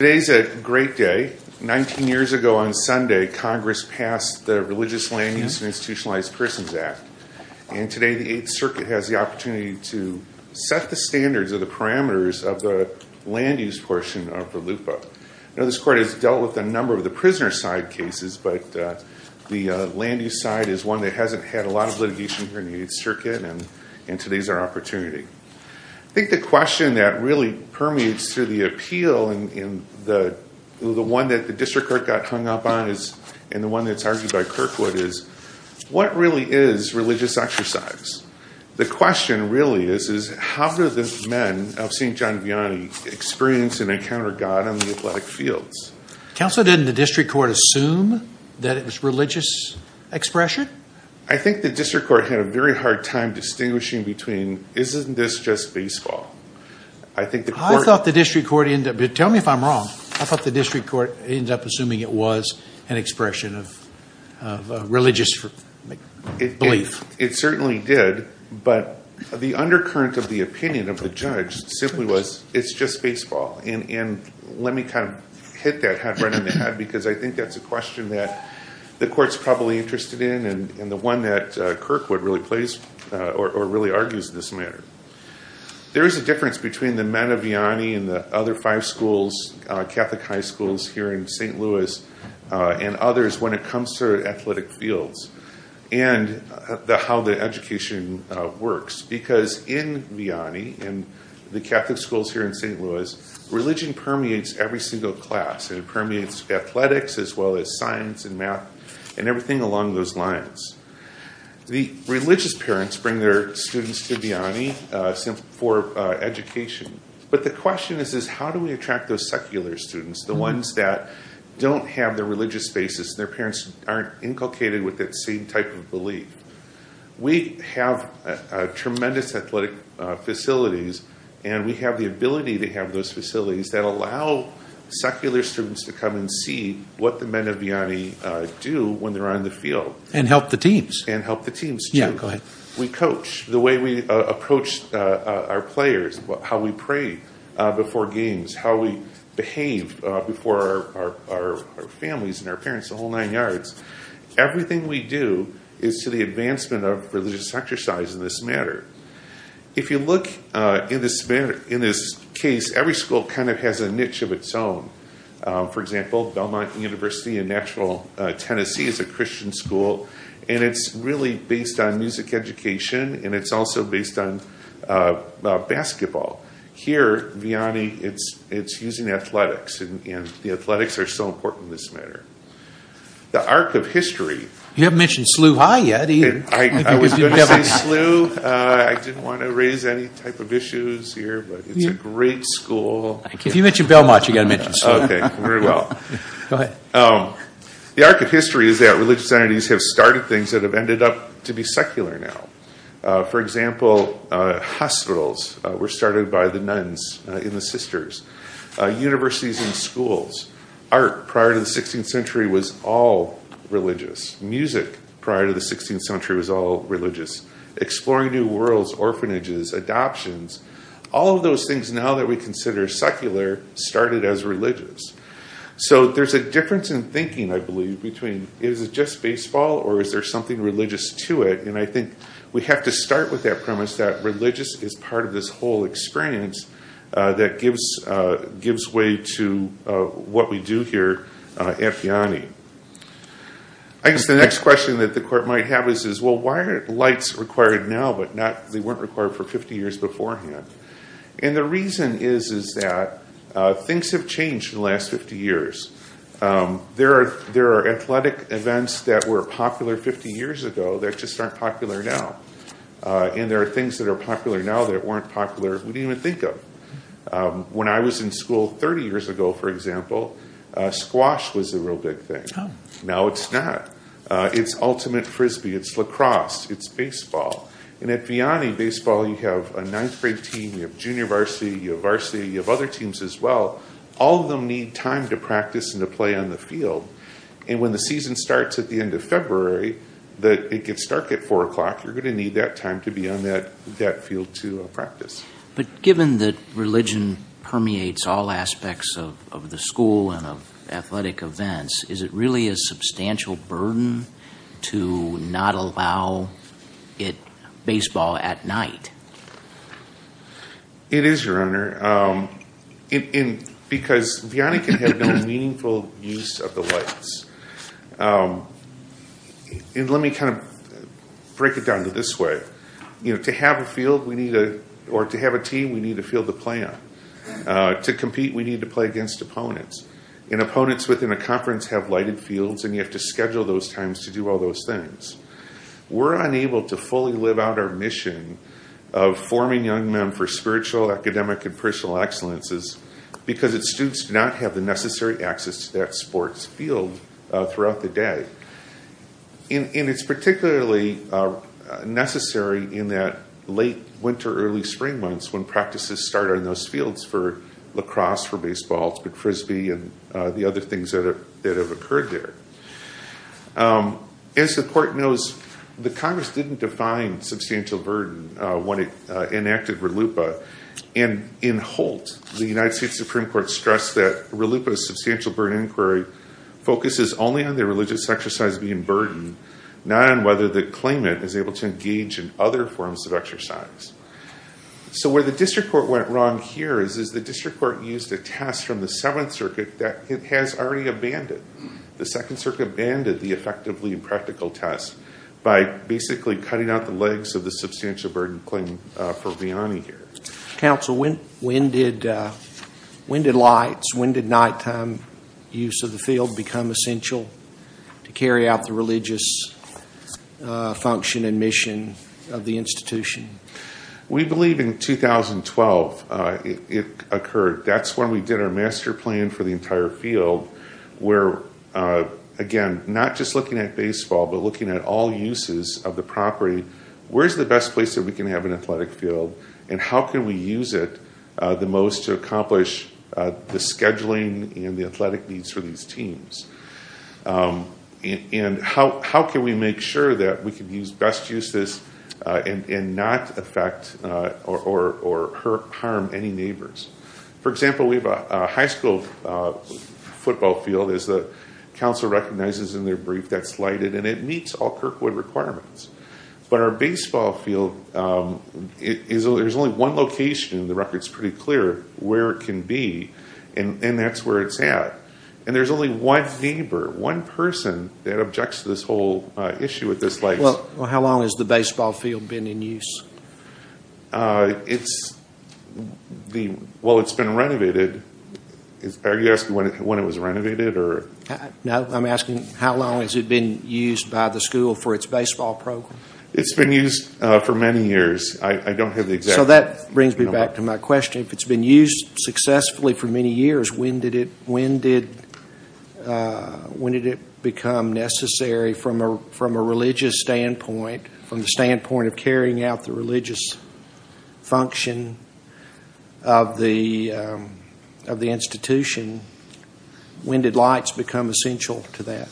Today is a great day. Nineteen years ago on Sunday, Congress passed the Religious Land Use and Institutionalized Persons Act, and today the Eighth Circuit has the opportunity to set the standards of the parameters of the land use portion of VELUPA. Now this Court has dealt with a number of the prisoner side cases, but the land use side is one that hasn't had a lot of litigation here in the Eighth Circuit, and today is our opportunity. I think the question that really permeates through the appeal and the one that the District Court got hung up on is, and the one that's argued by Kirkwood is, what really is religious exercise? The question really is, is how do the men of St. John Vianney experience and encounter God on the athletic fields? Counsel, didn't the District Court assume that it was religious expression? I think the District Court had a very hard time distinguishing between, isn't this just baseball? I think the Court- I thought the District Court ended up, but tell me if I'm wrong, I thought the District Court ended up assuming it was an expression of religious belief. It certainly did, but the undercurrent of the opinion of the judge simply was, it's just baseball. And let me kind of hit that head right on the head, because I think that's a question that the Court's probably interested in, and the one that Kirkwood really plays or really argues in this matter. There is a difference between the men of Vianney and the other five schools, Catholic high schools here in St. Louis, and others when it comes to athletic fields and how the education works, because in Vianney and the Catholic schools here in St. Louis, religion permeates every single class, and it permeates athletics as well as science and math and everything along those lines. The religious parents bring their students to Vianney for education, but the question is, how do we attract those secular students, the ones that don't have the religious basis and their parents aren't inculcated with that same type of belief? We have tremendous athletic facilities, and we have the ability to have those facilities that allow secular students to come and see what the men of Vianney do when they're on the field. And help the teams. And help the teams, too. We coach the way we approach our players, how we pray before games, how we behave before our families and our parents, the whole nine yards. Everything we do is to the advancement of religious exercise in this matter. If you look in this case, every school kind of has a niche of its own. For example, Belmont University in Nashville, Tennessee is a Christian school, and it's really based on music education, and it's also based on basketball. Here at Vianney, it's using athletics, and the athletics are so important in this matter. The arc of history. You haven't mentioned SLU High yet, either. I was going to say SLU, I didn't want to raise any type of issues here, but it's a great school. If you mention Belmont, you've got to mention SLU. The arc of history is that religious entities have started things that have ended up to be secular now. For example, hospitals were started by the nuns in the Sisters. Universities and schools. Art prior to the 16th century was all religious. Music prior to the 16th century was all religious. Exploring new worlds, orphanages, adoptions. All of those things, now that we consider secular, started as religious. There's a difference in thinking, I believe, between is it just baseball, or is there something religious to it, and I think we have to start with that premise that religious is part of this whole experience that gives way to what we do here at Vianney. I guess the next question that the court might have is, well, why are lights required now, but they weren't required for 50 years beforehand? The reason is that things have changed in the last 50 years. There are athletic events that were popular 50 years ago that just aren't popular now. There are things that are popular now that weren't popular, we didn't even think of. When I was in school 30 years ago, for example, squash was a real big thing. Now it's not. It's ultimate frisbee. It's lacrosse. It's baseball. At Vianney, baseball, you have a ninth grade team, you have junior varsity, you have varsity, you have other teams as well. All of them need time to practice and to play on the field. When the season starts at the end of February, it gets dark at 4 o'clock, you're going to need that time to be on that field to practice. Given that religion permeates all aspects of the school and of athletic events, is it at night? It is, Your Honor. Because Vianney can have no meaningful use of the lights. Let me kind of break it down to this way. To have a field, or to have a team, we need a field to play on. To compete, we need to play against opponents. Opponents within a conference have lighted fields and you have to schedule those times to do all those things. We're unable to fully live out our mission of forming young men for spiritual, academic, and personal excellences because its students do not have the necessary access to that sports field throughout the day. It's particularly necessary in that late winter, early spring months when practices start on those fields for lacrosse, for baseball, for frisbee, and the other things that have occurred there. As the court knows, the Congress didn't define substantial burden when it enacted RLUIPA. In Holt, the United States Supreme Court stressed that RLUIPA's substantial burden inquiry focuses only on the religious exercise being burdened, not on whether the claimant is able to engage in other forms of exercise. Where the district court went wrong here is the district court used a test from the Seventh Circuit and banned it, the effectively impractical test, by basically cutting out the legs of the substantial burden claim for Vianney here. Counsel, when did lights, when did nighttime use of the field become essential to carry out the religious function and mission of the institution? We believe in 2012 it occurred. That's when we did our master plan for the entire field where, again, not just looking at baseball, but looking at all uses of the property. Where's the best place that we can have an athletic field and how can we use it the most to accomplish the scheduling and the athletic needs for these teams? How can we make sure that we can use best uses and not affect or harm any neighbors? For example, we have a high school football field, as the council recognizes in their brief, that's lighted and it meets all Kirkwood requirements. But our baseball field, there's only one location, the record's pretty clear, where it can be and that's where it's at. And there's only one neighbor, one person that objects to this whole issue with this light. Well, how long has the baseball field been in use? It's, well, it's been renovated, are you asking when it was renovated or? No, I'm asking how long has it been used by the school for its baseball program? It's been used for many years. I don't have the exact number. So that brings me back to my question, if it's been used successfully for many years, when did it become necessary from a religious standpoint, from the standpoint of carrying out the religious function of the institution, when did lights become essential to that?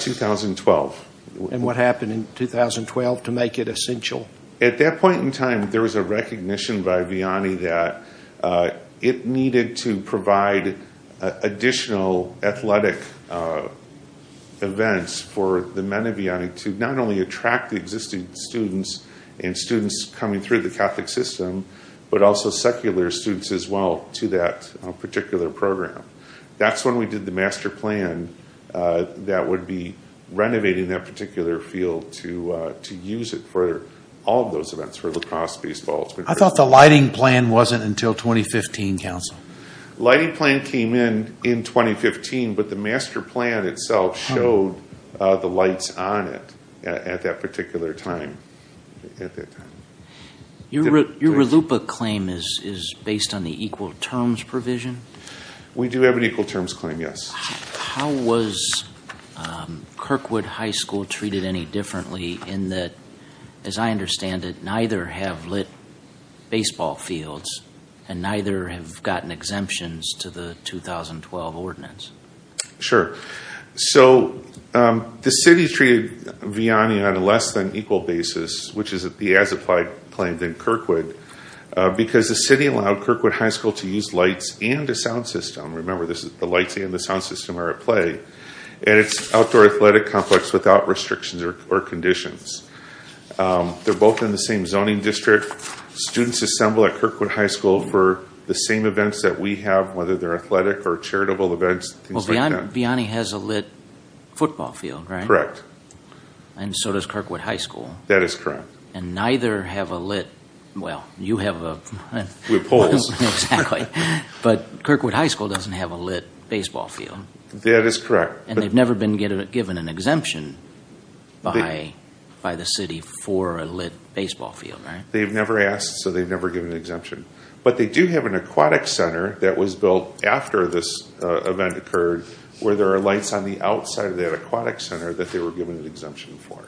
2012. And what happened in 2012 to make it essential? At that point in time, there was a recognition by Vianney that it needed to provide additional athletic events for the men of Vianney to not only attract the existing students and students coming through the Catholic system, but also secular students as well to that particular program. That's when we did the master plan that would be renovating that particular field to use it for all of those events, for lacrosse, baseball. Lighting plan came in in 2015, but the master plan itself showed the lights on it at that particular time. Your RLUPA claim is based on the equal terms provision? We do have an equal terms claim, yes. How was Kirkwood High School treated any differently in that, as I understand it, neither have baseball fields, and neither have gotten exemptions to the 2012 ordinance? Sure. So the city treated Vianney on a less than equal basis, which is the as-applied claim than Kirkwood, because the city allowed Kirkwood High School to use lights and a sound system. Remember, the lights and the sound system are at play, and it's an outdoor athletic complex without restrictions or conditions. They're both in the same zoning district. Students assemble at Kirkwood High School for the same events that we have, whether they're athletic or charitable events, things like that. Well, Vianney has a lit football field, right? Correct. And so does Kirkwood High School. That is correct. And neither have a lit, well, you have a lit football field, but Kirkwood High School doesn't have a lit baseball field. That is correct. And they've never been given an exemption by the city for a lit baseball field, right? They've never asked, so they've never given an exemption. But they do have an aquatic center that was built after this event occurred, where there are lights on the outside of that aquatic center that they were given an exemption for.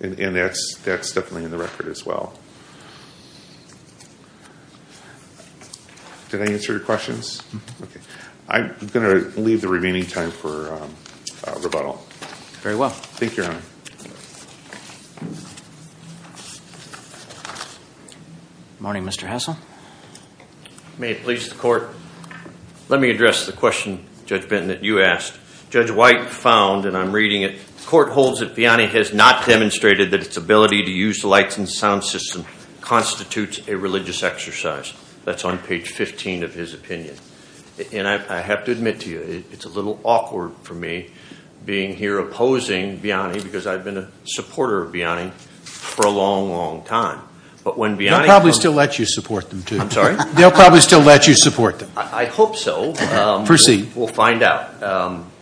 And that's definitely in the record as well. Did I answer your questions? I'm going to leave the remaining time for rebuttal. Very well. Thank you, Your Honor. Good morning, Mr. Hassell. May it please the court. Let me address the question, Judge Benton, that you asked. Judge White found, and I'm reading it, the court holds that Vianney has not demonstrated that its ability to use the lights and sound system constitutes a religious exercise. That's on page 15 of his opinion. And I have to admit to you, it's a little awkward for me being here opposing Vianney because I've been a supporter of Vianney for a long, long time. But when Vianney comes- They'll probably still let you support them too. I'm sorry? They'll probably still let you support them. I hope so. Proceed. We'll find out.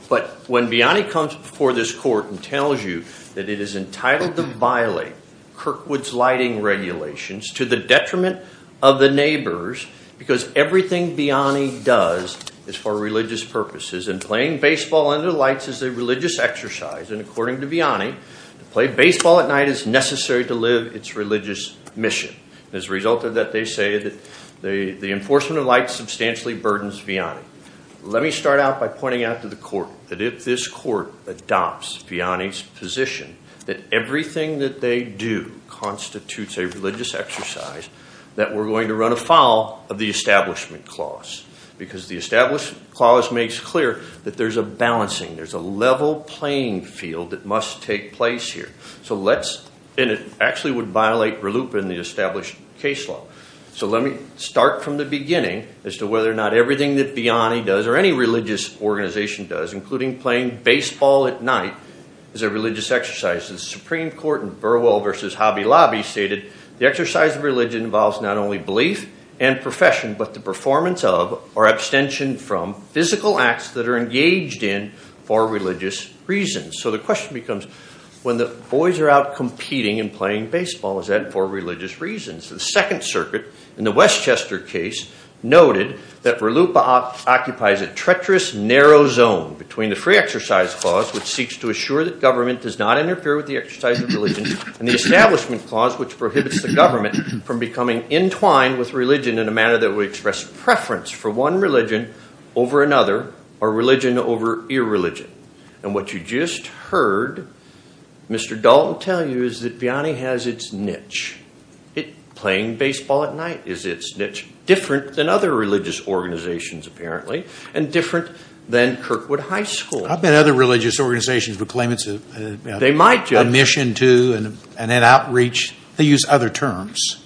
But when Vianney comes before this court and tells you that it is entitled to violate Kirkwood's lighting regulations to the detriment of the neighbors because everything Vianney does is for religious purposes, and playing baseball under the lights is a religious exercise, and according to Vianney, to play baseball at night is necessary to live its religious mission. As a result of that, they say that the enforcement of lights substantially burdens Vianney. Let me start out by pointing out to the court that if this court adopts Vianney's position that everything that they do constitutes a religious exercise, that we're going to run afoul of the Establishment Clause. Because the Establishment Clause makes clear that there's a balancing, there's a level playing field that must take place here. So let's- and it actually would violate RLUIPA and the established case law. So let me start from the beginning as to whether or not everything that Vianney does, or any playing baseball at night, is a religious exercise. The Supreme Court in Burwell v. Hobby Lobby stated, the exercise of religion involves not only belief and profession, but the performance of, or abstention from, physical acts that are engaged in for religious reasons. So the question becomes, when the boys are out competing and playing baseball, is that for religious reasons? The Second Circuit in the Westchester case noted that RLUIPA occupies a treacherous narrow zone between the Free Exercise Clause, which seeks to assure that government does not interfere with the exercise of religion, and the Establishment Clause, which prohibits the government from becoming entwined with religion in a manner that would express preference for one religion over another, or religion over irreligion. And what you just heard Mr. Dalton tell you is that Vianney has its niche. Playing baseball at night is its niche. Different than other religious organizations apparently, and different than Kirkwood High School. I've met other religious organizations who claim it's a mission too, and an outreach. They use other terms.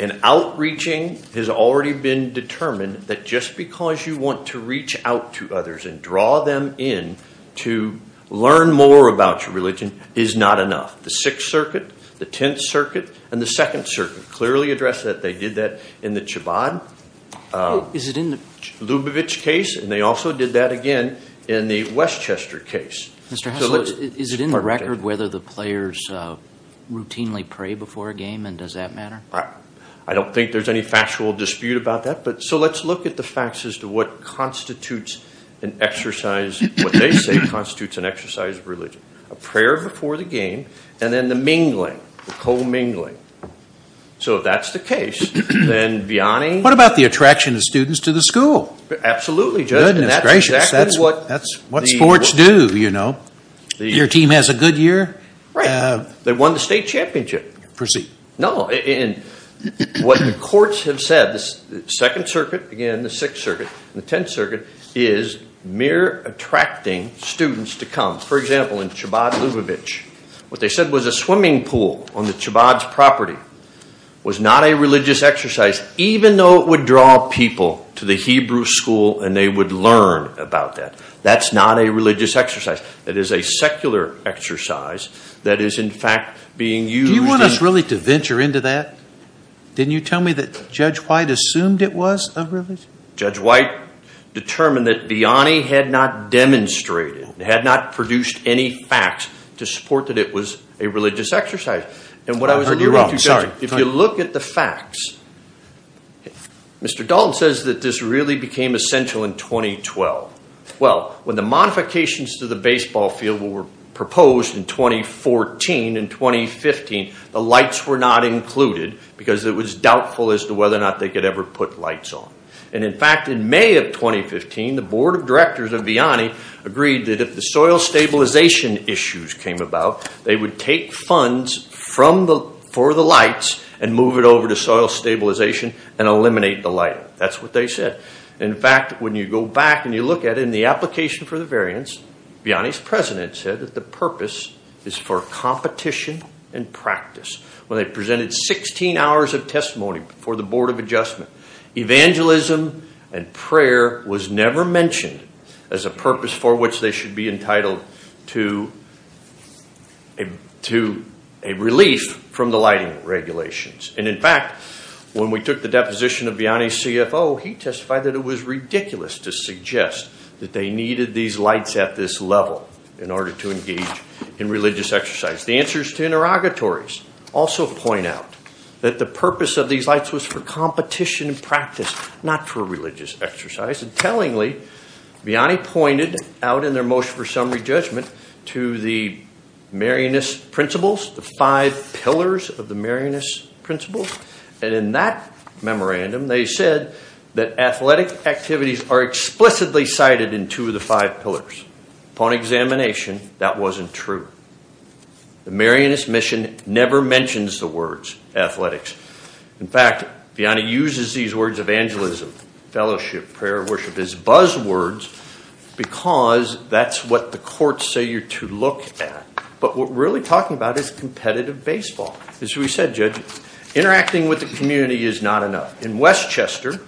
And outreaching has already been determined that just because you want to reach out to others and draw them in to learn more about your religion is not enough. The Sixth Circuit, the Tenth Circuit, and the Second Circuit clearly address that. They did that in the Chabad Lubavitch case, and they also did that again in the Westchester case. Mr. Haslund, is it in the record whether the players routinely pray before a game, and does that matter? I don't think there's any factual dispute about that, but so let's look at the facts as to what constitutes an exercise, what they say constitutes an exercise of religion. A prayer before the game, and then the mingling, the co-mingling. So, if that's the case, then Vianney – What about the attraction of students to the school? Absolutely, Judge. Goodness gracious. That's what sports do, you know. Your team has a good year. Right. They won the state championship. Proceed. No. What the courts have said, the Second Circuit, again the Sixth Circuit, and the Tenth Circuit is mere attracting students to come. For example, in Chabad Lubavitch, what they said was a swimming pool on the Chabad's property was not a religious exercise, even though it would draw people to the Hebrew school and they would learn about that. That's not a religious exercise. It is a secular exercise that is, in fact, being used – Do you want us really to venture into that? Didn't you tell me that Judge White assumed it was a religious – Judge White determined that Vianney had not demonstrated, had not produced any facts to support that it was a religious exercise. And what I was – I heard you wrong. I'm sorry. If you look at the facts, Mr. Dalton says that this really became essential in 2012. Well, when the modifications to the baseball field were proposed in 2014 and 2015, the lights were not included because it was doubtful as to whether or not they could ever put lights on. And in fact, in May of 2015, the board of directors of Vianney agreed that if the soil stabilization issues came about, they would take funds for the lights and move it over to soil stabilization and eliminate the lighting. That's what they said. In fact, when you go back and you look at it in the application for the variance, Vianney's president said that the purpose is for competition and practice. When they presented 16 hours of testimony before the board of adjustment, evangelism and prayer was never mentioned as a purpose for which they should be entitled to a relief from the lighting regulations. And in fact, when we took the deposition of Vianney's CFO, he testified that it was ridiculous to suggest that they needed these lights at this level in order to engage in religious exercise. The answers to interrogatories also point out that the purpose of these lights was for competition and practice, not for religious exercise. And tellingly, Vianney pointed out in their motion for summary judgment to the Marianist principles, the five pillars of the Marianist principles, and in that memorandum, they said that athletic activities are explicitly cited in two of the five pillars. Upon examination, that wasn't true. The Marianist mission never mentions the words athletics. In fact, Vianney uses these words evangelism, fellowship, prayer, worship as buzzwords because that's what the courts say you're to look at. But what we're really talking about is competitive baseball. As we said, judges, interacting with the community is not enough. In Westchester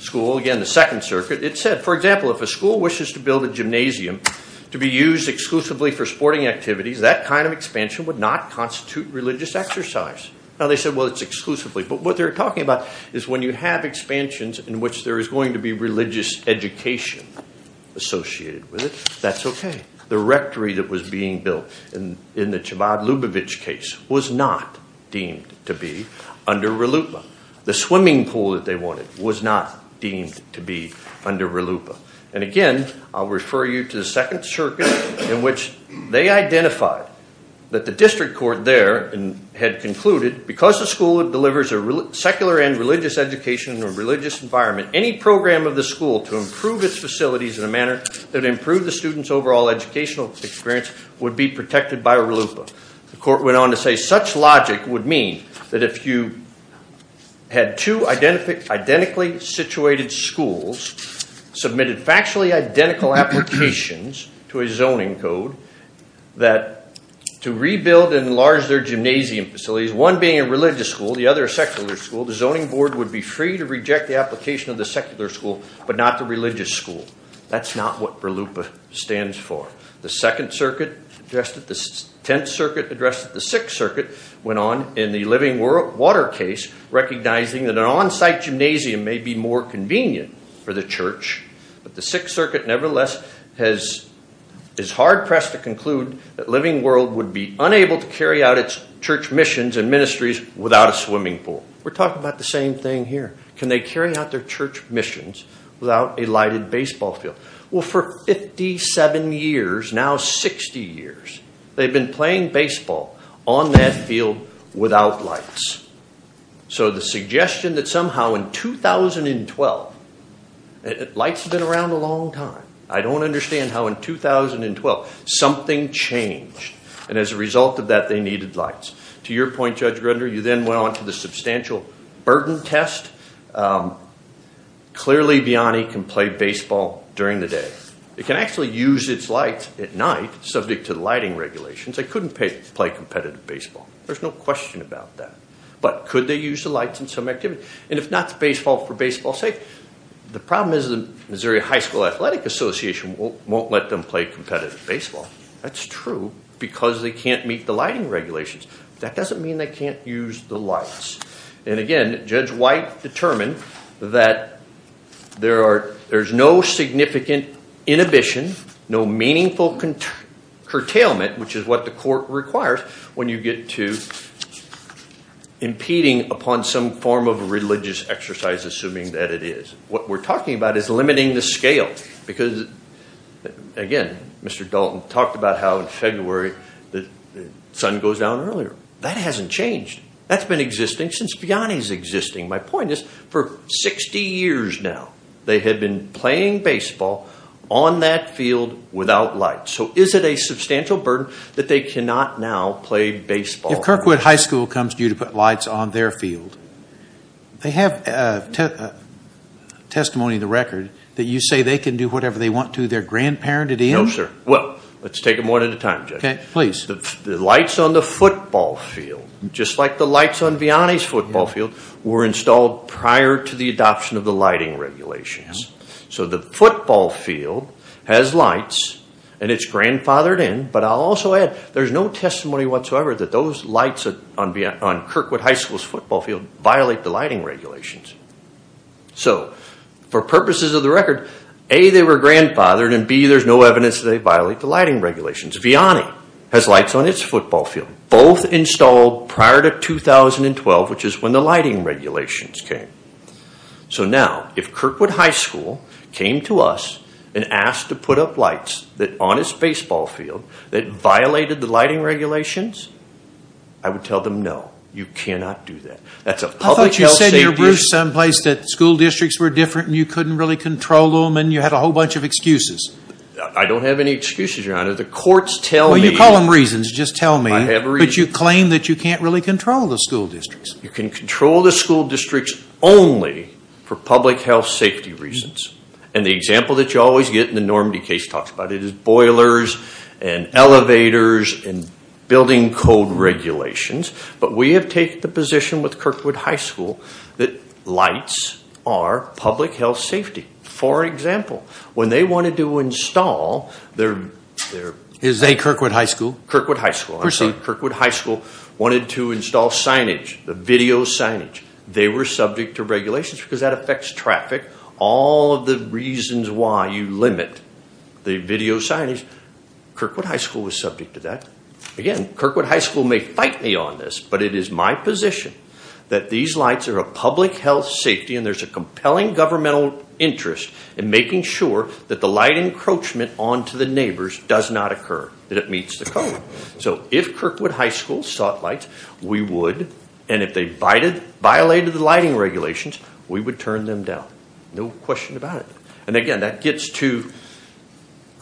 School, again, the Second Circuit, it said, for example, if a school wishes to build a gymnasium to be used exclusively for sporting activities, that kind of expansion would not constitute religious exercise. Now, they said, well, it's exclusively. But what they're talking about is when you have expansions in which there is going to be religious education associated with it, that's okay. The rectory that was being built in the Chabad-Lubavitch case was not deemed to be under RLUIPA. The swimming pool that they wanted was not deemed to be under RLUIPA. And again, I'll refer you to the Second Circuit in which they identified that the district court there had concluded because the school delivers a secular and religious education in a religious environment, any program of the school to improve its facilities in a manner that improved the students' overall educational experience would be protected by RLUIPA. The court went on to say such logic would mean that if you had two identically situated schools submitted factually identical applications to a zoning code that to rebuild and enlarge their gymnasium facilities, one being a religious school, the other a secular school, the zoning board would be free to reject the application of the secular school but not the religious school. That's not what RLUIPA stands for. The Second Circuit addressed it, the Tenth Circuit addressed it, the Sixth Circuit went on in the Living World Water case recognizing that an on-site gymnasium may be more convenient for the church. But the Sixth Circuit nevertheless is hard-pressed to conclude that Living World would be unable to carry out its church missions and ministries without a swimming pool. We're talking about the same thing here. Can they carry out their church missions without a lighted baseball field? Well, for 57 years, now 60 years, they've been playing baseball on that field without lights. So the suggestion that somehow in 2012, lights have been around a long time, I don't understand how in 2012 something changed and as a result of that they needed lights. To your point, Judge Grunder, you then went on to the substantial burden test. Clearly, Bionni can play baseball during the day. It can actually use its lights at night subject to the lighting regulations. They couldn't play competitive baseball. There's no question about that. But could they use the lights in some activities? And if not baseball for baseball's sake, the problem is the Missouri High School Athletic Association won't let them play competitive baseball. That's true because they can't meet the lighting regulations. That doesn't mean they can't use the lights. And again, Judge White determined that there's no significant inhibition, no meaningful curtailment, which is what the court requires when you get to impeding upon some form of religious exercise assuming that it is. What we're talking about is limiting the scale because again, Mr. Dalton talked about how in February the sun goes down earlier. That hasn't changed. That's been existing since Bionni's existing. My point is for 60 years now, they have been playing baseball on that field without lights. So is it a substantial burden that they cannot now play baseball? If Kirkwood High School comes to you to put lights on their field, they have testimony in the record that you say they can do whatever they want to their grandparented in? No, sir. Well, let's take them one at a time, Judge. Okay, please. The lights on the football field, just like the lights on Bionni's football field, were installed prior to the adoption of the lighting regulations. So the football field has lights and it's grandfathered in, but I'll also add there's no testimony whatsoever that those lights on Kirkwood High School's football field violate the lighting regulations. So for purposes of the record, A, they were grandfathered, and B, there's no evidence that they violate the lighting regulations. Bionni has lights on its football field, both installed prior to 2012, which is when the lighting regulations came. So now, if Kirkwood High School came to us and asked to put up lights on its baseball field that violated the lighting regulations, I would tell them, no, you cannot do that. That's a public health safety issue. I thought you said in your briefs someplace that school districts were different and you couldn't really control them and you had a whole bunch of excuses. I don't have any excuses, Your Honor. The courts tell me... Well, you call them reasons. Just tell me. I have a reason. But you claim that you can't really control the school districts. You can control the school districts only for public health safety reasons. And the example that you always get in the Normandy case talks about it as boilers and elevators and building code regulations. But we have taken the position with Kirkwood High School that lights are public health safety. For example, when they wanted to install their... Is they Kirkwood High School? Kirkwood High School. I'm sorry. Kirkwood High School wanted to install signage, the video signage. They were subject to regulations because that affects traffic. All of the reasons why you limit the video signage, Kirkwood High School was subject to that. Again, Kirkwood High School may fight me on this, but it is my position that these lights are a public health safety, and there's a compelling governmental interest in making sure that the light encroachment onto the neighbors does not occur, that it meets the code. So if Kirkwood High School sought lights, we would. And if they violated the lighting regulations, we would turn them down. No question about it. And again, that gets to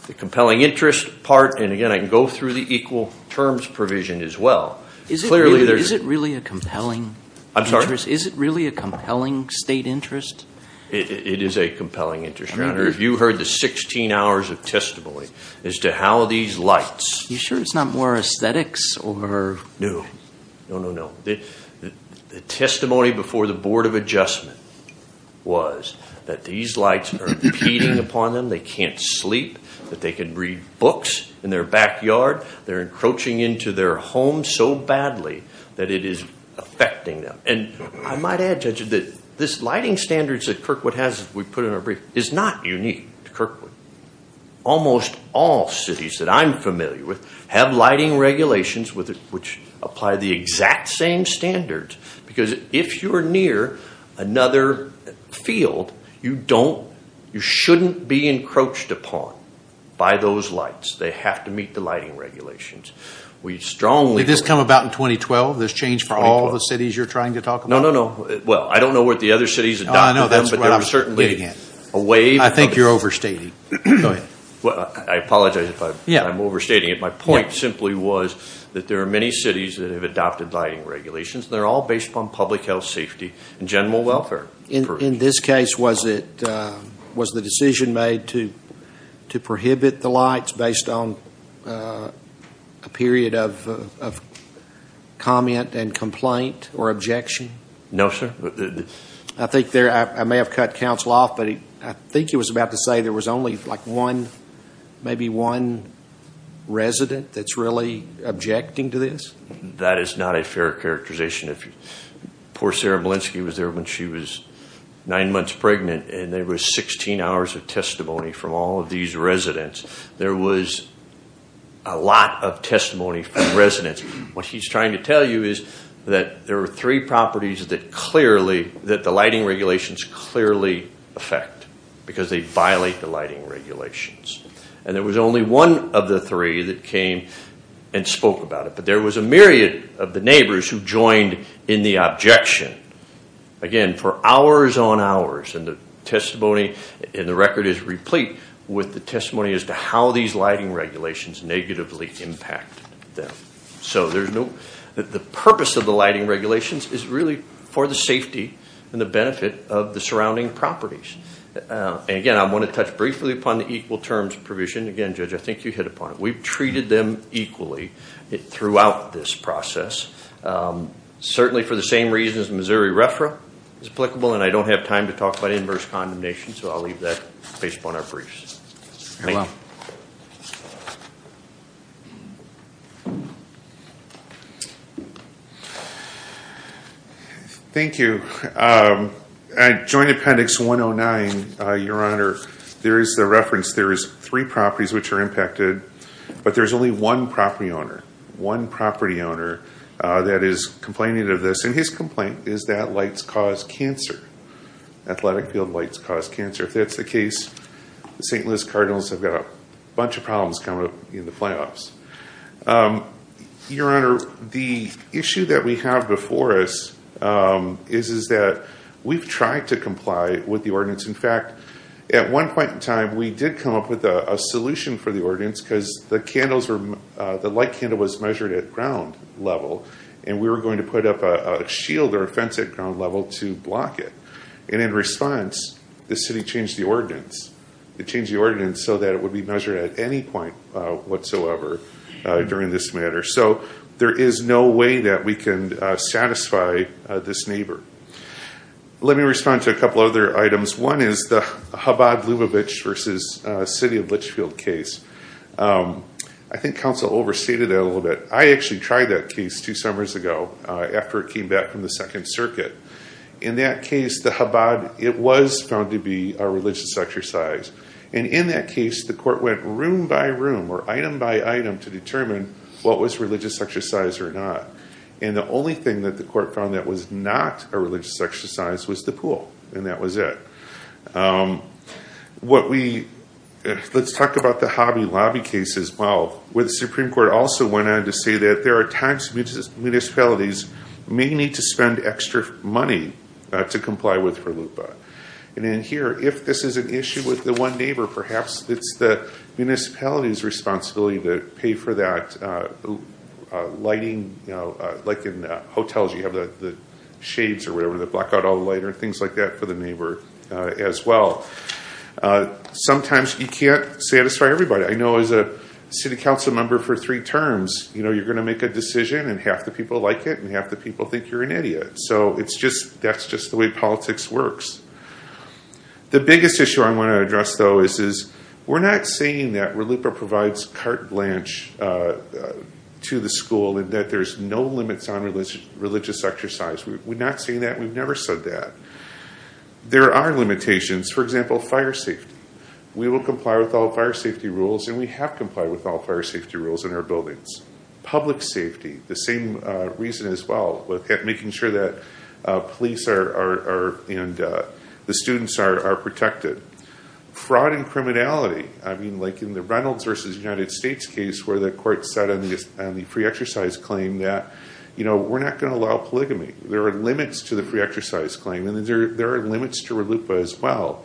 the compelling interest part, and again, I can go through the equal terms provision as well. Clearly there's... Is it really a compelling interest? I'm sorry? Is it really a compelling state interest? It is a compelling interest, Your Honor. If you heard the 16 hours of testimony as to how these lights... You sure it's not more aesthetics or... No. No, no, no. The testimony before the Board of Adjustment was that these lights are impeding upon them, they can't sleep, that they can read books in their backyard, they're encroaching into their homes so badly that it is affecting them. And I might add, Judge, that this lighting standards that Kirkwood has, we put in our brief, is not unique to Kirkwood. Almost all cities that I'm familiar with have lighting regulations which apply the exact same standards, because if you're near another field, you shouldn't be encroached upon by those lights. They have to meet the lighting regulations. We strongly... Did this come about in 2012? This change for all the cities you're trying to talk about? No, no, no. Well, I don't know what the other cities adopted them, but there was certainly a wave... I think you're overstating. Go ahead. Well, I apologize if I'm overstating it. My point simply was that there are many cities that have adopted lighting regulations, and they're all based upon public health, safety, and general welfare. In this case, was the decision made to prohibit the lights based on a period of comment and complaint or objection? No, sir. I think there... I may have cut counsel off, but I think he was about to say there was only like one, maybe one resident that's really objecting to this? That is not a fair characterization. Poor Sarah Molenski was there when she was nine months pregnant, and there was 16 hours of testimony from all of these residents. There was a lot of testimony from residents. What he's trying to tell you is that there were three properties that clearly... That the lighting regulations clearly affect, because they violate the lighting regulations. And there was only one of the three that came and spoke about it, but there was a myriad of the neighbors who joined in the objection. Again, for hours on hours, and the testimony in the record is replete with the testimony as to how these lighting regulations negatively impacted them. So there's no... The purpose of the lighting regulations is really for the safety and the benefit of the surrounding properties. And again, I want to touch briefly upon the equal terms provision. Again, Judge, I think you hit upon it. We've treated them equally throughout this process, certainly for the same reasons Missouri RFRA is applicable, and I don't have time to talk about inverse condemnation, so I'll leave that based upon our briefs. Thank you. Thank you. At Joint Appendix 109, Your Honor, there is the reference there is three properties which are impacted, but there's only one property owner, one property owner that is complaining of this. And his complaint is that lights cause cancer. Athletic field lights cause cancer. If that's the case, the St. Louis Cardinals have got a bunch of problems coming up in the playoffs. Your Honor, the issue that we have before us is that we've tried to comply with the ordinance. In fact, at one point in time, we did come up with a solution for the ordinance because the candles were, the light candle was measured at ground level, and we were going to put up a shield or a fence at ground level to block it. And in response, the city changed the ordinance. It changed the ordinance so that it would be measured at any point whatsoever during this matter. So there is no way that we can satisfy this neighbor. Let me respond to a couple other items. One is the Chabad Lubavitch versus City of Litchfield case. I think counsel overstated that a little bit. I actually tried that case two summers ago after it came back from the Second Circuit. In that case, the Chabad, it was found to be a religious exercise. And in that case, the court went room by room or item by item to determine what was religious exercise or not. And the only thing that the court found that was not a religious exercise was the pool, and that was it. What we, let's talk about the Hobby Lobby case as well, where the Supreme Court also went on to say that there are times municipalities may need to spend extra money to comply with for LUPA. And in here, if this is an issue with the one neighbor, perhaps it's the municipality's responsibility to pay for that lighting, you know, like in hotels, you have the shades or whatever that block out all the light or things like that for the neighbor as well. Sometimes you can't satisfy everybody. I know as a city council member for three terms, you know, you're going to make a decision and half the people like it and half the people think you're an idiot. So it's just, that's just the way politics works. The biggest issue I want to address, though, is we're not saying that where LUPA provides carte blanche to the school and that there's no limits on religious exercise. We're not saying that. We've never said that. There are limitations, for example, fire safety. We will comply with all fire safety rules and we have complied with all fire safety rules in our buildings. Public safety, the same reason as well, making sure that police and the students are protected. Fraud and criminality, I mean, like in the Reynolds v. United States case where the court said on the pre-exercise claim that, you know, we're not going to allow polygamy. There are limits to the pre-exercise claim and there are limits to LUPA as well.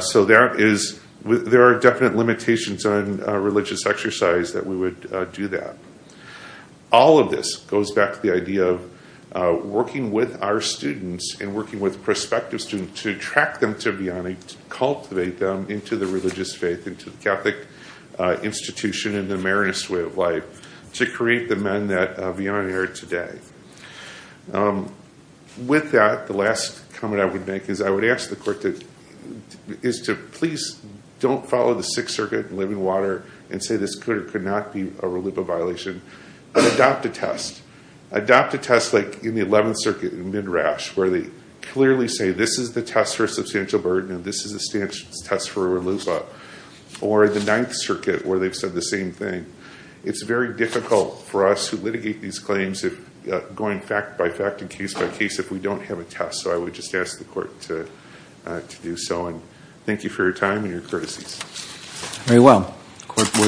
So there is, there are definite limitations on religious exercise that we would do that. All of this goes back to the idea of working with our students and working with prospective students to attract them to Bionic, to cultivate them into the religious faith, into the Catholic institution and the Marianist way of life to create the men that Bionic are today. With that, the last comment I would make is I would ask the court to, is to please don't follow the Sixth Circuit and live in water and say this could or could not be a RLUPA violation and adopt a test. Adopt a test like in the 11th Circuit in Midrash where they clearly say this is the test for the Sixth Circuit where they've said the same thing. It's very difficult for us to litigate these claims going fact by fact and case by case if we don't have a test. So I would just ask the court to do so and thank you for your time and your courtesies.